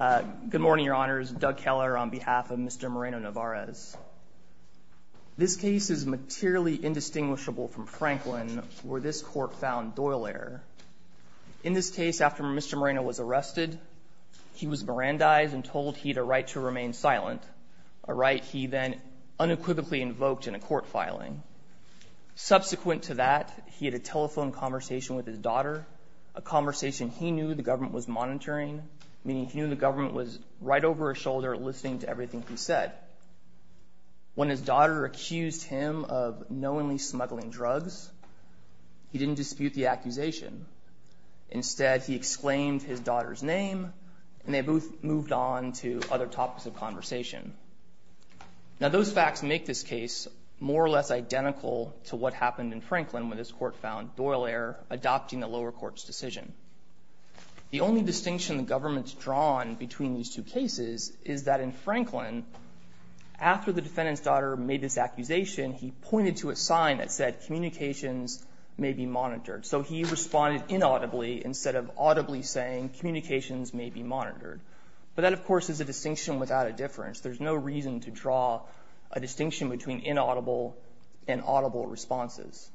Good morning, Your Honors. Doug Keller on behalf of Mr. Moreno-Nevarez. This case is materially indistinguishable from Franklin, where this court found Doyle error. In this case, after Mr. Moreno was arrested, he was Mirandized and told he had a right to remain silent, a right he then unequivocally invoked in a court filing. Subsequent to that, he had a telephone conversation with his daughter, a conversation he knew the government was monitoring, meaning he knew the government was right over his shoulder listening to everything he said. When his daughter accused him of knowingly smuggling drugs, he didn't dispute the accusation. Instead, he exclaimed his daughter's name, and they both moved on to other topics of conversation. Now, those facts make this case more or less identical to what happened in Franklin when this court found Doyle error adopting the lower court's decision. The only distinction the government's drawn between these two cases is that in Franklin, after the defendant's daughter made this accusation, he pointed to a sign that said, communications may be monitored. So he responded inaudibly instead of audibly saying, communications may be monitored. But that, of course, is a distinction without a difference. There's no reason to draw a distinction between inaudible and audible responses.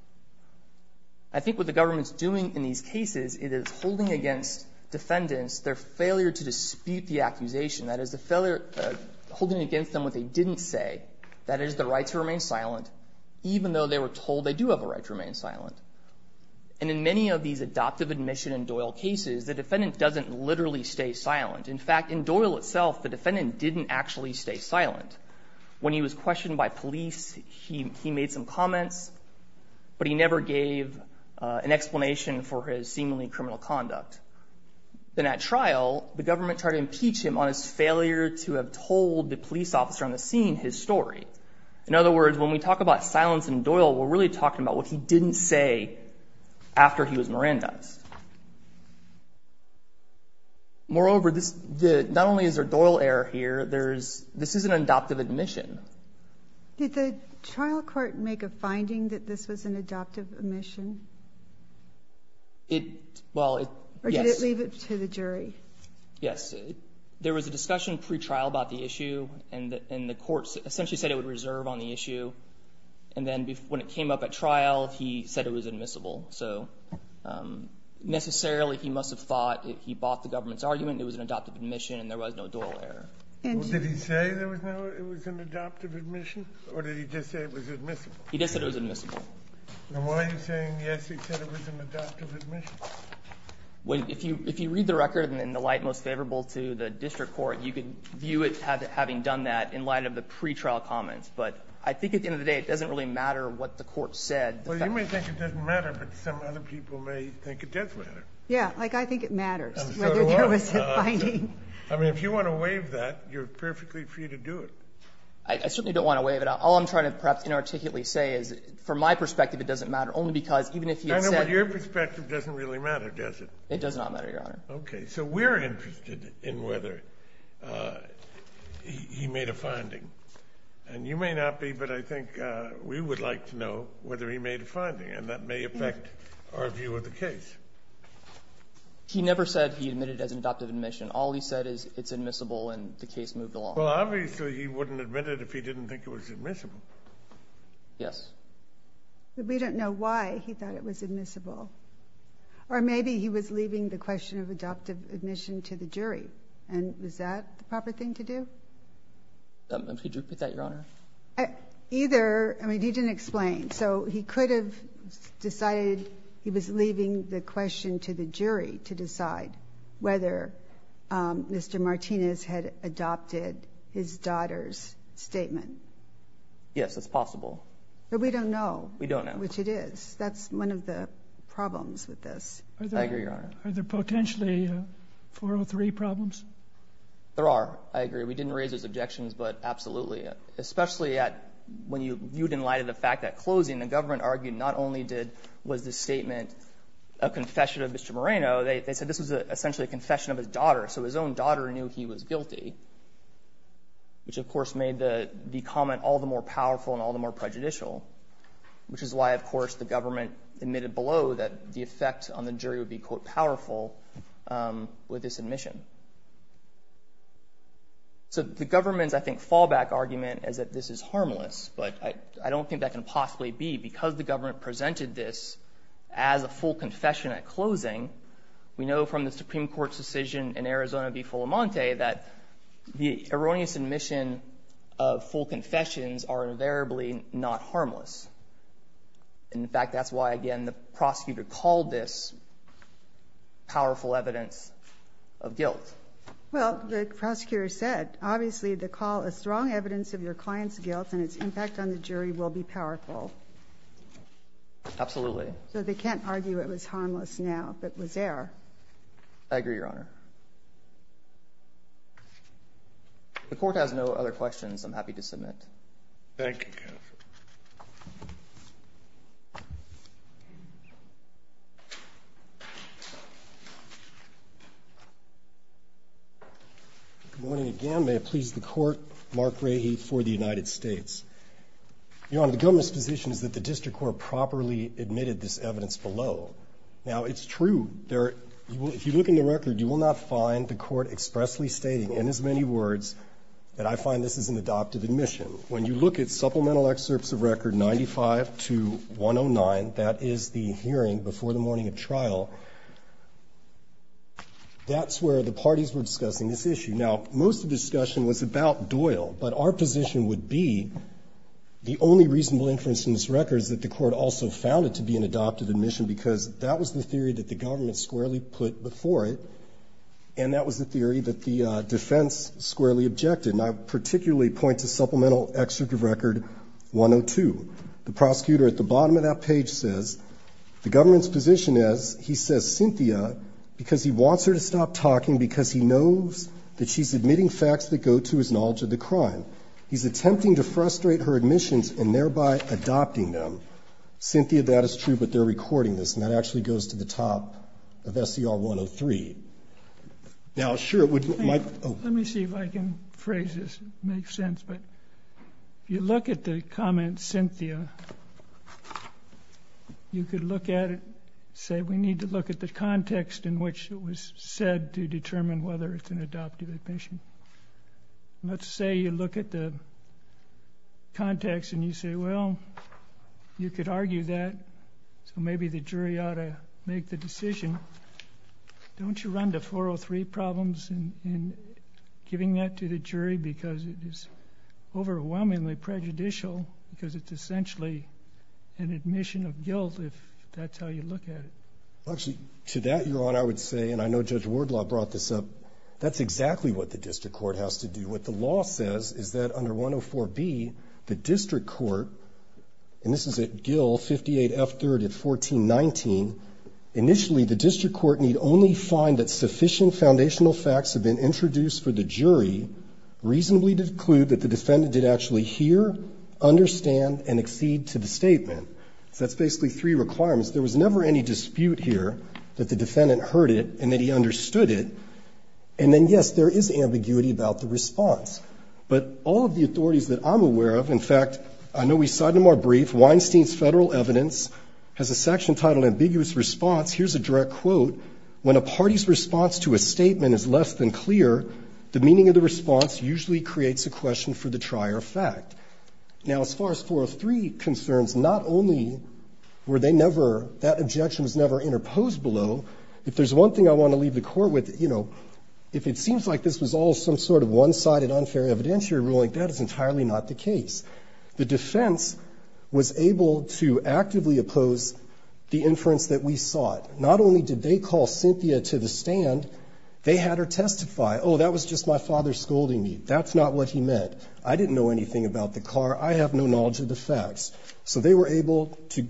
I think what the government's doing in these cases, it is holding against defendants their failure to dispute the accusation. That is, holding against them what they didn't say. That is, the right to remain silent, even though they were told they do have a right to remain silent. And in many of these adoptive admission in Doyle cases, the defendant doesn't literally stay silent. In fact, in Doyle itself, the defendant didn't actually stay silent. When he was questioned by police, he made some comments, but he never gave an explanation for his seemingly criminal conduct. Then at trial, the government tried to impeach him on his failure to have told the police officer on the scene his story. In other words, when we talk about silence in Doyle, we're really talking about what he didn't say after he was Mirandized. Moreover, not only is there Doyle error here, this is an adoptive admission. Did the trial court make a finding that this was an adoptive admission? Well, yes. Or did it leave it to the jury? Yes. There was a discussion pre-trial about the issue, and the court essentially said it would reserve on the issue. And then when it came up at trial, he said it was admissible. So necessarily, he must have thought if he bought the government's argument, it was an adoptive admission and there was no Doyle error. Did he say there was no adoptive admission, or did he just say it was admissible? He just said it was admissible. Then why are you saying, yes, he said it was an adoptive admission? If you read the record in the light most favorable to the district court, you could view it having done that in light of the pre-trial comments. But I think at the end of the day, it doesn't really matter what the court said. Well, you may think it doesn't matter, but some other people may think it does matter. Yes. Like, I think it matters whether there was a finding. I mean, if you want to waive that, you're perfectly free to do it. I certainly don't want to waive it. All I'm trying to perhaps inarticulately say is, from my perspective, it doesn't matter, only because even if you had said your perspective doesn't really matter, does it? It does not matter, Your Honor. Okay. So we're interested in whether he made a finding. And you may not be, but I think we would like to know whether he made a finding, and that may affect our view of the case. He never said he admitted as an adoptive admission. All he said is it's admissible and the case moved along. Well, obviously he wouldn't admit it if he didn't think it was admissible. Yes. But we don't know why he thought it was admissible. Or maybe he was leaving the question of adoptive admission to the jury, and was that the proper thing to do? Could you repeat that, Your Honor? Either. I mean, he didn't explain. So he could have decided he was leaving the question to the jury to decide whether Mr. Martinez had adopted his daughter's statement. Yes, that's possible. But we don't know. We don't know. Which it is. That's one of the problems with this. I agree, Your Honor. Are there potentially 403 problems? There are. I agree. We didn't raise those objections, but absolutely. Especially when you viewed in light of the fact that closing, the government argued not only was the statement a confession of Mr. Moreno, they said this was essentially a confession of his daughter, so his own daughter knew he was guilty, which, of course, made the comment all the more powerful and all the more prejudicial, with this admission. So the government's, I think, fallback argument is that this is harmless, but I don't think that can possibly be. Because the government presented this as a full confession at closing, we know from the Supreme Court's decision in Arizona v. Fulamonte that the erroneous admission of full confessions are invariably not harmless. And, in fact, that's why, again, the prosecutor called this powerful evidence of guilt. Well, the prosecutor said, obviously, the call is strong evidence of your client's guilt and its impact on the jury will be powerful. Absolutely. So they can't argue it was harmless now if it was there. I agree, Your Honor. The Court has no other questions I'm happy to submit. Thank you, counsel. Good morning again. May it please the Court, Mark Rahe for the United States. Your Honor, the government's position is that the district court properly admitted this evidence below. Now, it's true. If you look in the record, you will not find the court expressly stating in as many words that I find this is an adoptive admission. When you look at supplemental excerpts of record 95 to 109, that is the hearing before the morning of trial, that's where the parties were discussing this issue. Now, most of the discussion was about Doyle, but our position would be the only reasonable inference in this record is that the court also found it to be an adoptive admission because that was the theory that the government squarely put before it, and that was the theory that the defense squarely objected. And I particularly point to supplemental excerpt of record 102. The prosecutor at the bottom of that page says, the government's position is he says Cynthia because he wants her to stop talking because he knows that she's admitting facts that go to his knowledge of the crime. He's attempting to frustrate her admissions and thereby adopting them. Cynthia, that is true, but they're recording this, and that actually goes to the top of SCR 103. Now, sure, it would make sense, but if you look at the comment Cynthia, you could look at it and say we need to look at the context in which it was said to determine whether it's an adoptive admission. Let's say you look at the context and you say, well, you could argue that, so maybe the jury ought to make the decision. Don't you run to 403 problems in giving that to the jury because it is overwhelmingly prejudicial because it's essentially an admission of guilt if that's how you look at it? Actually, to that, Your Honor, I would say, and I know Judge Wardlaw brought this up, that's exactly what the district court has to do. What the law says is that under 104B, the district court, and this is at Gill 58F3rd at 1419, initially the district court need only find that sufficient foundational facts have been introduced for the jury reasonably to conclude that the defendant did actually hear, understand, and accede to the statement. So that's basically three requirements. There was never any dispute here that the defendant heard it and that he understood it, and then, yes, there is ambiguity about the response. But all of the authorities that I'm aware of, in fact, I know we cite in a more brief, Weinstein's federal evidence has a section titled ambiguous response. Here's a direct quote. When a party's response to a statement is less than clear, the meaning of the response usually creates a question for the trier of fact. Now, as far as 403 concerns, not only were they never, that objection was never interposed below. If there's one thing I want to leave the Court with, you know, if it seems like this was all some sort of one-sided unfair evidentiary ruling, that is entirely not the case. The defense was able to actively oppose the inference that we sought. Not only did they call Cynthia to the stand, they had her testify, oh, that was just my father scolding me. That's not what he meant. I didn't know anything about the car. I have no knowledge of the facts. So they were able to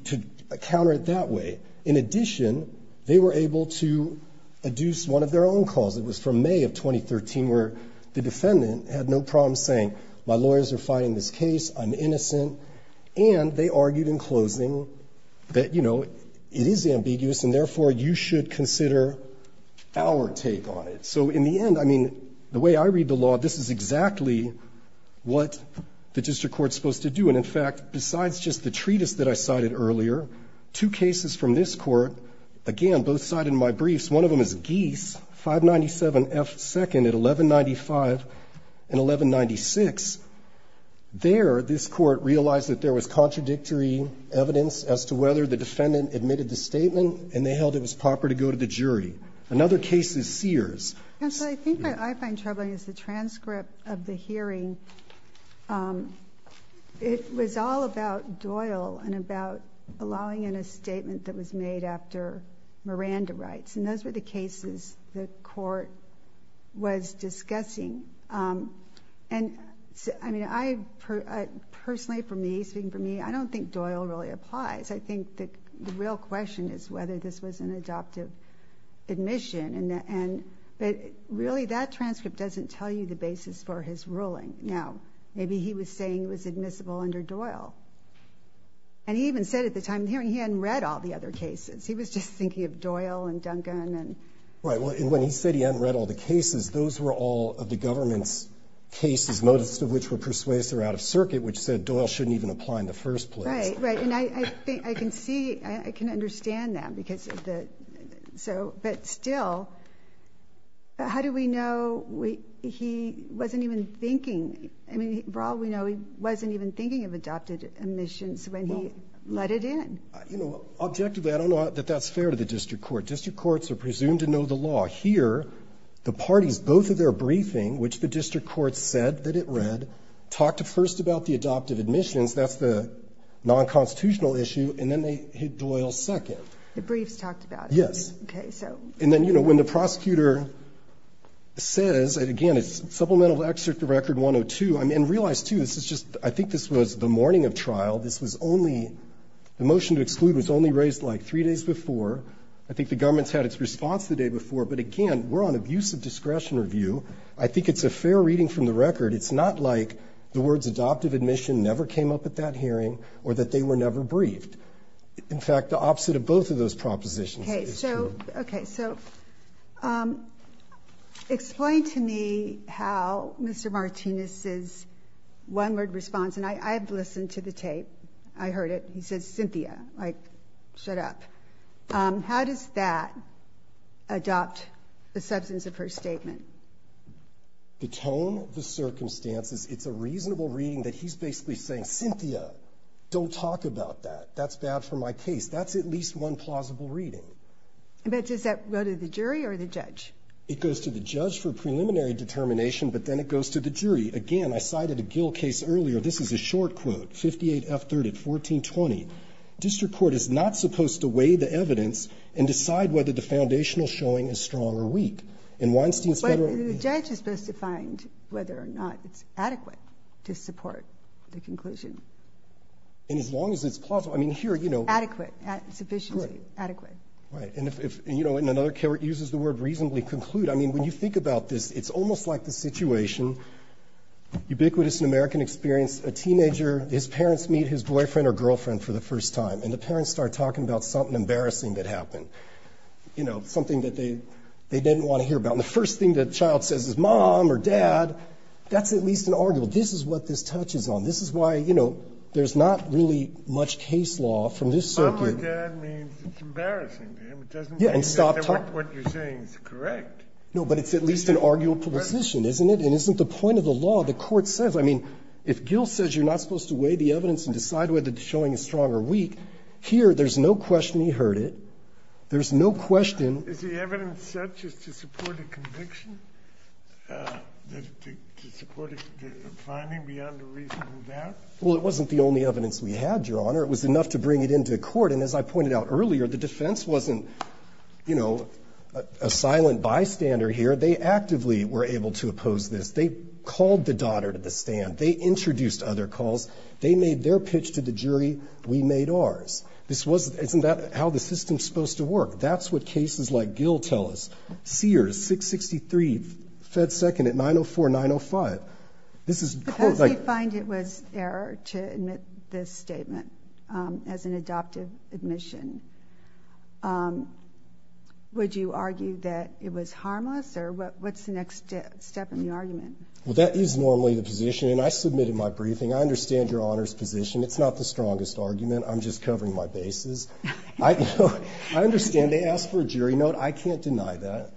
counter it that way. In addition, they were able to adduce one of their own calls. It was from May of 2013, where the defendant had no problem saying, you know, my lawyers are fighting this case, I'm innocent, and they argued in closing that, you know, it is ambiguous and therefore you should consider our take on it. So in the end, I mean, the way I read the law, this is exactly what the district court is supposed to do. And in fact, besides just the treatise that I cited earlier, two cases from this court, again, both cited in my briefs, one of them is Geese, 597F2nd at 1195 and 1196, there, this Court realized that there was contradictory evidence as to whether the defendant admitted the statement and they held it was proper to go to the jury. Another case is Sears. Ginsburg. I think what I find troubling is the transcript of the hearing. It was all about Doyle and about allowing in a statement that was made after Miranda rights, and those were the cases the Court was discussing. And, I mean, I personally, for me, speaking for me, I don't think Doyle really applies. I think the real question is whether this was an adoptive admission, and really that transcript doesn't tell you the basis for his ruling. Now, maybe he was saying it was admissible under Doyle. And he even said at the time of the hearing he hadn't read all the other cases. He was just thinking of Doyle and Duncan and Doyle. Right, well, and when he said he hadn't read all the cases, those were all of the government's cases, most of which were persuasive or out of circuit, which said Doyle shouldn't even apply in the first place. Right, right. And I think I can see, I can understand that because of the, so, but still, how do we know he wasn't even thinking, I mean, for all we know, he wasn't even thinking of adoptive admissions when he let it in. You know, objectively, I don't know that that's fair to the district court. District courts are presumed to know the law. Here, the parties, both of their briefing, which the district court said that it read, talked first about the adoptive admissions, that's the nonconstitutional issue, and then they hit Doyle second. The briefs talked about it. Yes. Okay, so. And then, you know, when the prosecutor says, and again, it's supplemental to Excerpt of Record 102, I mean, realize, too, this is just, I think this was the morning of trial. This was only, the motion to exclude was only raised like three days before. I think the government's had its response the day before, but again, we're on abusive discretion review. I think it's a fair reading from the record. It's not like the words adoptive admission never came up at that hearing or that they were never briefed. In fact, the opposite of both of those propositions is true. Okay, so, okay, so, explain to me how Mr. Martinez's one-word response, and I've listened to the tape. I heard it. He says, Cynthia, like, shut up. How does that adopt the substance of her statement? Detone the circumstances. It's a reasonable reading that he's basically saying, Cynthia, don't talk about that. That's bad for my case. That's at least one plausible reading. But does that go to the jury or the judge? It goes to the judge for preliminary determination, but then it goes to the jury. Again, I cited a Gill case earlier. This is a short quote, 58-F-30, 1420. District court is not supposed to weigh the evidence and decide whether the foundational showing is strong or weak. In Weinstein's Federal Review. But the judge is supposed to find whether or not it's adequate to support the conclusion. And as long as it's plausible. I mean, here, you know. Adequate. Sufficiently adequate. Right. And if, you know, in another case where it uses the word reasonably conclude, I mean, when you think about this, it's almost like the situation, ubiquitous in American experience, a teenager, his parents meet his boyfriend or girlfriend for the first time, and the parents start talking about something embarrassing that happened, you know, something that they didn't want to hear about. And the first thing the child says is mom or dad. That's at least an arguable. This is what this touches on. This is why, you know, there's not really much case law from this circuit. Mom or dad means it's embarrassing to him. It doesn't mean that what you're saying is correct. No, but it's at least an arguable position, isn't it? And isn't the point of the law, the court says, I mean, if Gill says you're not supposed to weigh the evidence and decide whether the showing is strong or weak, here, there's no question he heard it. There's no question. Is the evidence such as to support a conviction? To support a finding beyond a reasonable doubt? Well, it wasn't the only evidence we had, Your Honor. It was enough to bring it into court. And as I pointed out earlier, the defense wasn't, you know, a silent bystander They actively were able to oppose this. They called the daughter to the stand. They introduced other calls. They made their pitch to the jury. We made ours. Isn't that how the system's supposed to work? That's what cases like Gill tell us. Sears, 663, fed second at 904, 905. Because we find it was error to admit this statement as an adoptive admission, would you argue that it was harmless? Or what's the next step in the argument? Well, that is normally the position. And I submitted my briefing. I understand Your Honor's position. It's not the strongest argument. I'm just covering my bases. I understand they asked for a jury note. I can't deny that.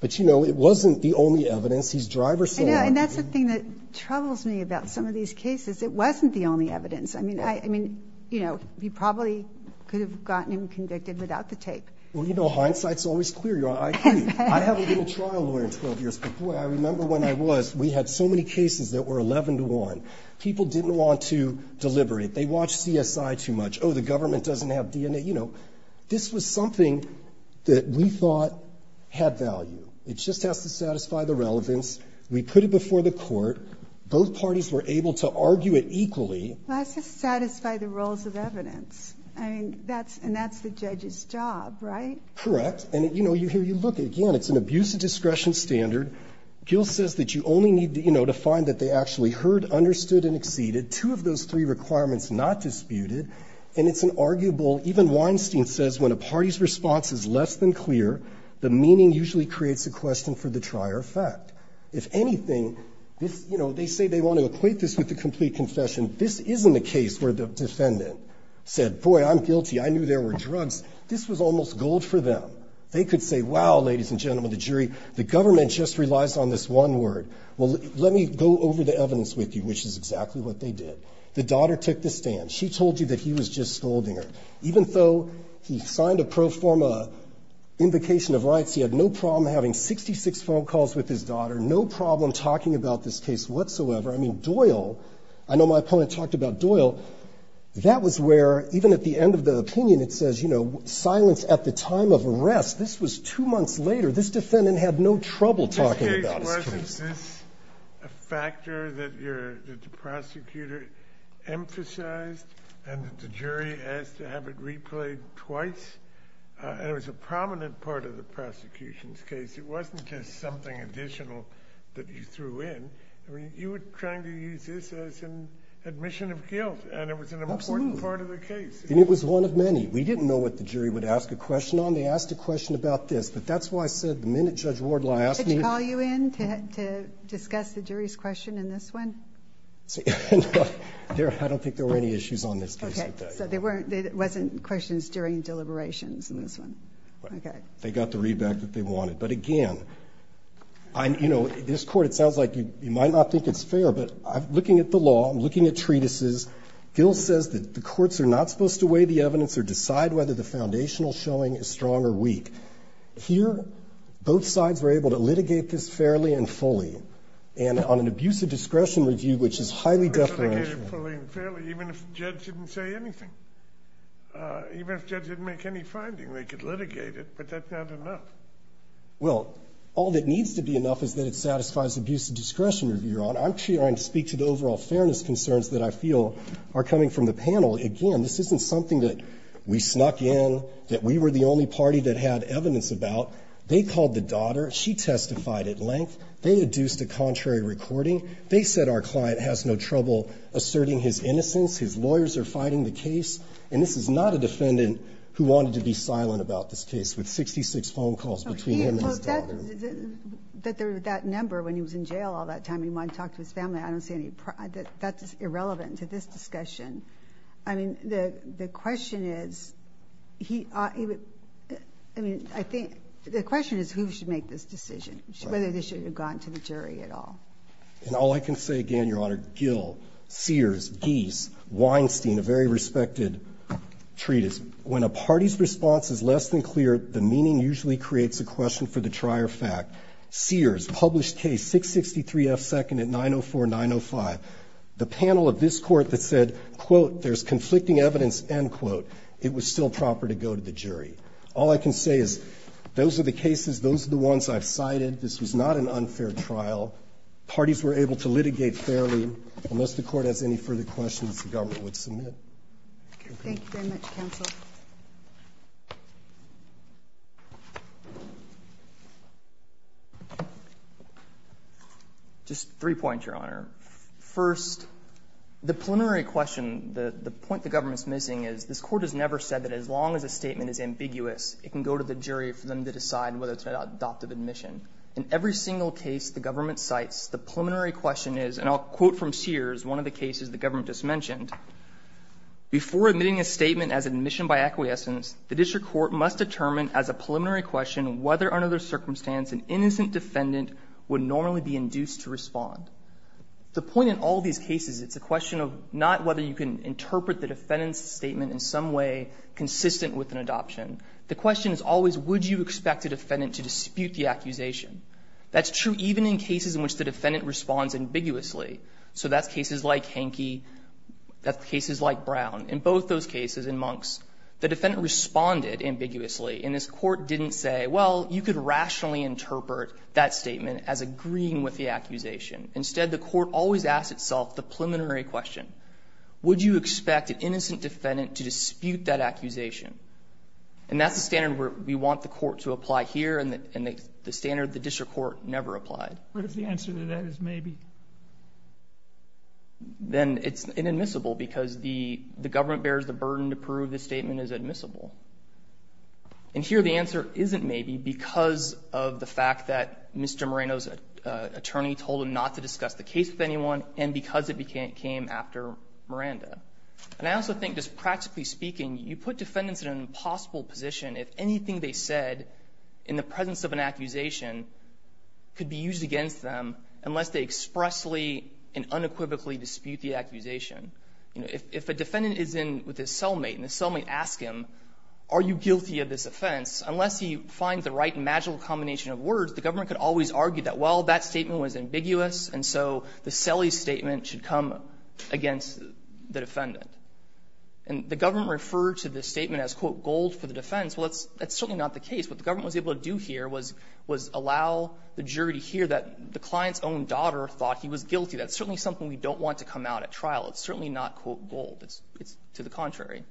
But, you know, it wasn't the only evidence. He's driver-safe. And that's the thing that troubles me about some of these cases. It wasn't the only evidence. I mean, you know, you probably could have gotten him convicted without the tape. Well, you know, hindsight's always clear, Your Honor. I haven't been a trial lawyer in 12 years. But, boy, I remember when I was, we had so many cases that were 11 to 1. People didn't want to deliberate. They watched CSI too much. Oh, the government doesn't have DNA. You know, this was something that we thought had value. It just has to satisfy the relevance. We put it before the court. Both parties were able to argue it equally. Well, it has to satisfy the roles of evidence. I mean, that's the judge's job, right? Correct. And, you know, here you look. Again, it's an abuse of discretion standard. Gill says that you only need to find that they actually heard, understood, and exceeded two of those three requirements not disputed. And it's an arguable, even Weinstein says, when a party's response is less than clear, the meaning usually creates a question for the trier of fact. If anything, you know, they say they want to equate this with the complete confession. This isn't a case where the defendant said, boy, I'm guilty, I knew there were drugs. This was almost gold for them. They could say, wow, ladies and gentlemen, the jury, the government just relies on this one word. Well, let me go over the evidence with you, which is exactly what they did. The daughter took the stand. She told you that he was just scolding her. Even though he signed a pro forma invocation of rights, he had no problem having 66 phone calls with his daughter, no problem talking about this case whatsoever. I mean, Doyle, I know my opponent talked about Doyle. That was where, even at the end of the opinion, it says, you know, silence at the time of arrest. This was two months later. This defendant had no trouble talking about this case. This case, wasn't this a factor that you're, that the prosecutor emphasized and that the jury asked to have it replayed twice? It was a prominent part of the prosecution's case. It wasn't just something additional that you threw in. I mean, you were trying to use this as an admission of guilt. Absolutely. And it was an important part of the case. And it was one of many. We didn't know what the jury would ask a question on. They asked a question about this. But that's why I said the minute Judge Wardlaw asked me. Did he call you in to discuss the jury's question in this one? No. I don't think there were any issues on this case. Okay. So there weren't, there wasn't questions during deliberations in this one. Okay. They got the read back that they wanted. But, again, you know, this court, it sounds like you might not think it's fair, but looking at the law, looking at treatises, Gil says that the courts are not supposed to weigh the evidence or decide whether the foundational showing is strong or weak. Here, both sides were able to litigate this fairly and fully. And on an abuse of discretion review, which is highly definitional. Litigate it fully and fairly, even if the judge didn't say anything. Even if the judge didn't make any finding, they could litigate it. But that's not enough. Well, all that needs to be enough is that it satisfies abuse of discretion review, Your Honor. I'm trying to speak to the overall fairness concerns that I feel are coming from the panel. Again, this isn't something that we snuck in, that we were the only party that had evidence about. They called the daughter. She testified at length. They induced a contrary recording. They said our client has no trouble asserting his innocence. His lawyers are fighting the case. And this is not a defendant who wanted to be silent about this case with 66 phone calls between him and his daughter. That there was that number when he was in jail all that time and he wanted to talk to his family, I don't see any problem. That's irrelevant to this discussion. I mean, the question is, I mean, I think the question is who should make this decision, whether they should have gone to the jury at all. And all I can say, again, Your Honor, Gill, Sears, Gies, Weinstein, a very respected treatise. When a party's response is less than clear, the meaning usually creates a question for the trier fact. Sears published case 663F second at 904, 905. The panel of this Court that said, quote, there's conflicting evidence, end quote, it was still proper to go to the jury. All I can say is those are the cases, those are the ones I've cited. This was not an unfair trial. Parties were able to litigate fairly. Unless the Court has any further questions, the government would submit. Okay. Thank you very much, counsel. Just three points, Your Honor. First, the preliminary question, the point the government is missing is this Court has never said that as long as a statement is ambiguous, it can go to the jury for them to decide whether to adopt an admission. In every single case the government cites, the preliminary question is, and I'll quote from Sears, one of the cases the government just mentioned. Before admitting a statement as admission by acquiescence, the district court must determine as a preliminary question whether under the circumstance an innocent defendant would normally be induced to respond. The point in all these cases, it's a question of not whether you can interpret the defendant's statement in some way consistent with an adoption. The question is always, would you expect a defendant to dispute the accusation? That's true even in cases in which the defendant responds ambiguously. So that's cases like Henke. That's cases like Brown. In both those cases, in Monks, the defendant responded ambiguously, and this Court didn't say, well, you could rationally interpret that statement as agreeing with the accusation. Instead, the Court always asks itself the preliminary question. Would you expect an innocent defendant to dispute that accusation? And that's the standard we want the Court to apply here and the standard the district court never applied. But if the answer to that is maybe? Then it's inadmissible because the government bears the burden to prove this statement is admissible. And here the answer isn't maybe because of the fact that Mr. Moreno's attorney told him not to discuss the case with anyone and because it came after Miranda. And I also think just practically speaking, you put defendants in an impossible position if anything they said in the presence of an accusation could be used against them unless they expressly and unequivocally dispute the accusation. You know, if a defendant is in with his cellmate and the cellmate asks him, are you guilty of this offense, unless he finds the right magical combination of words, the government could always argue that, well, that statement was And the government referred to this statement as, quote, gold for the defense. Well, that's certainly not the case. What the government was able to do here was allow the jury to hear that the client's own daughter thought he was guilty. That's certainly something we don't want to come out at trial. It's certainly not, quote, gold. It's to the contrary.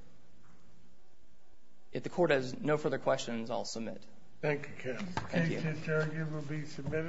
If the Court has no further questions, I'll submit. Thank you, Kevin. The case is arguably submitted.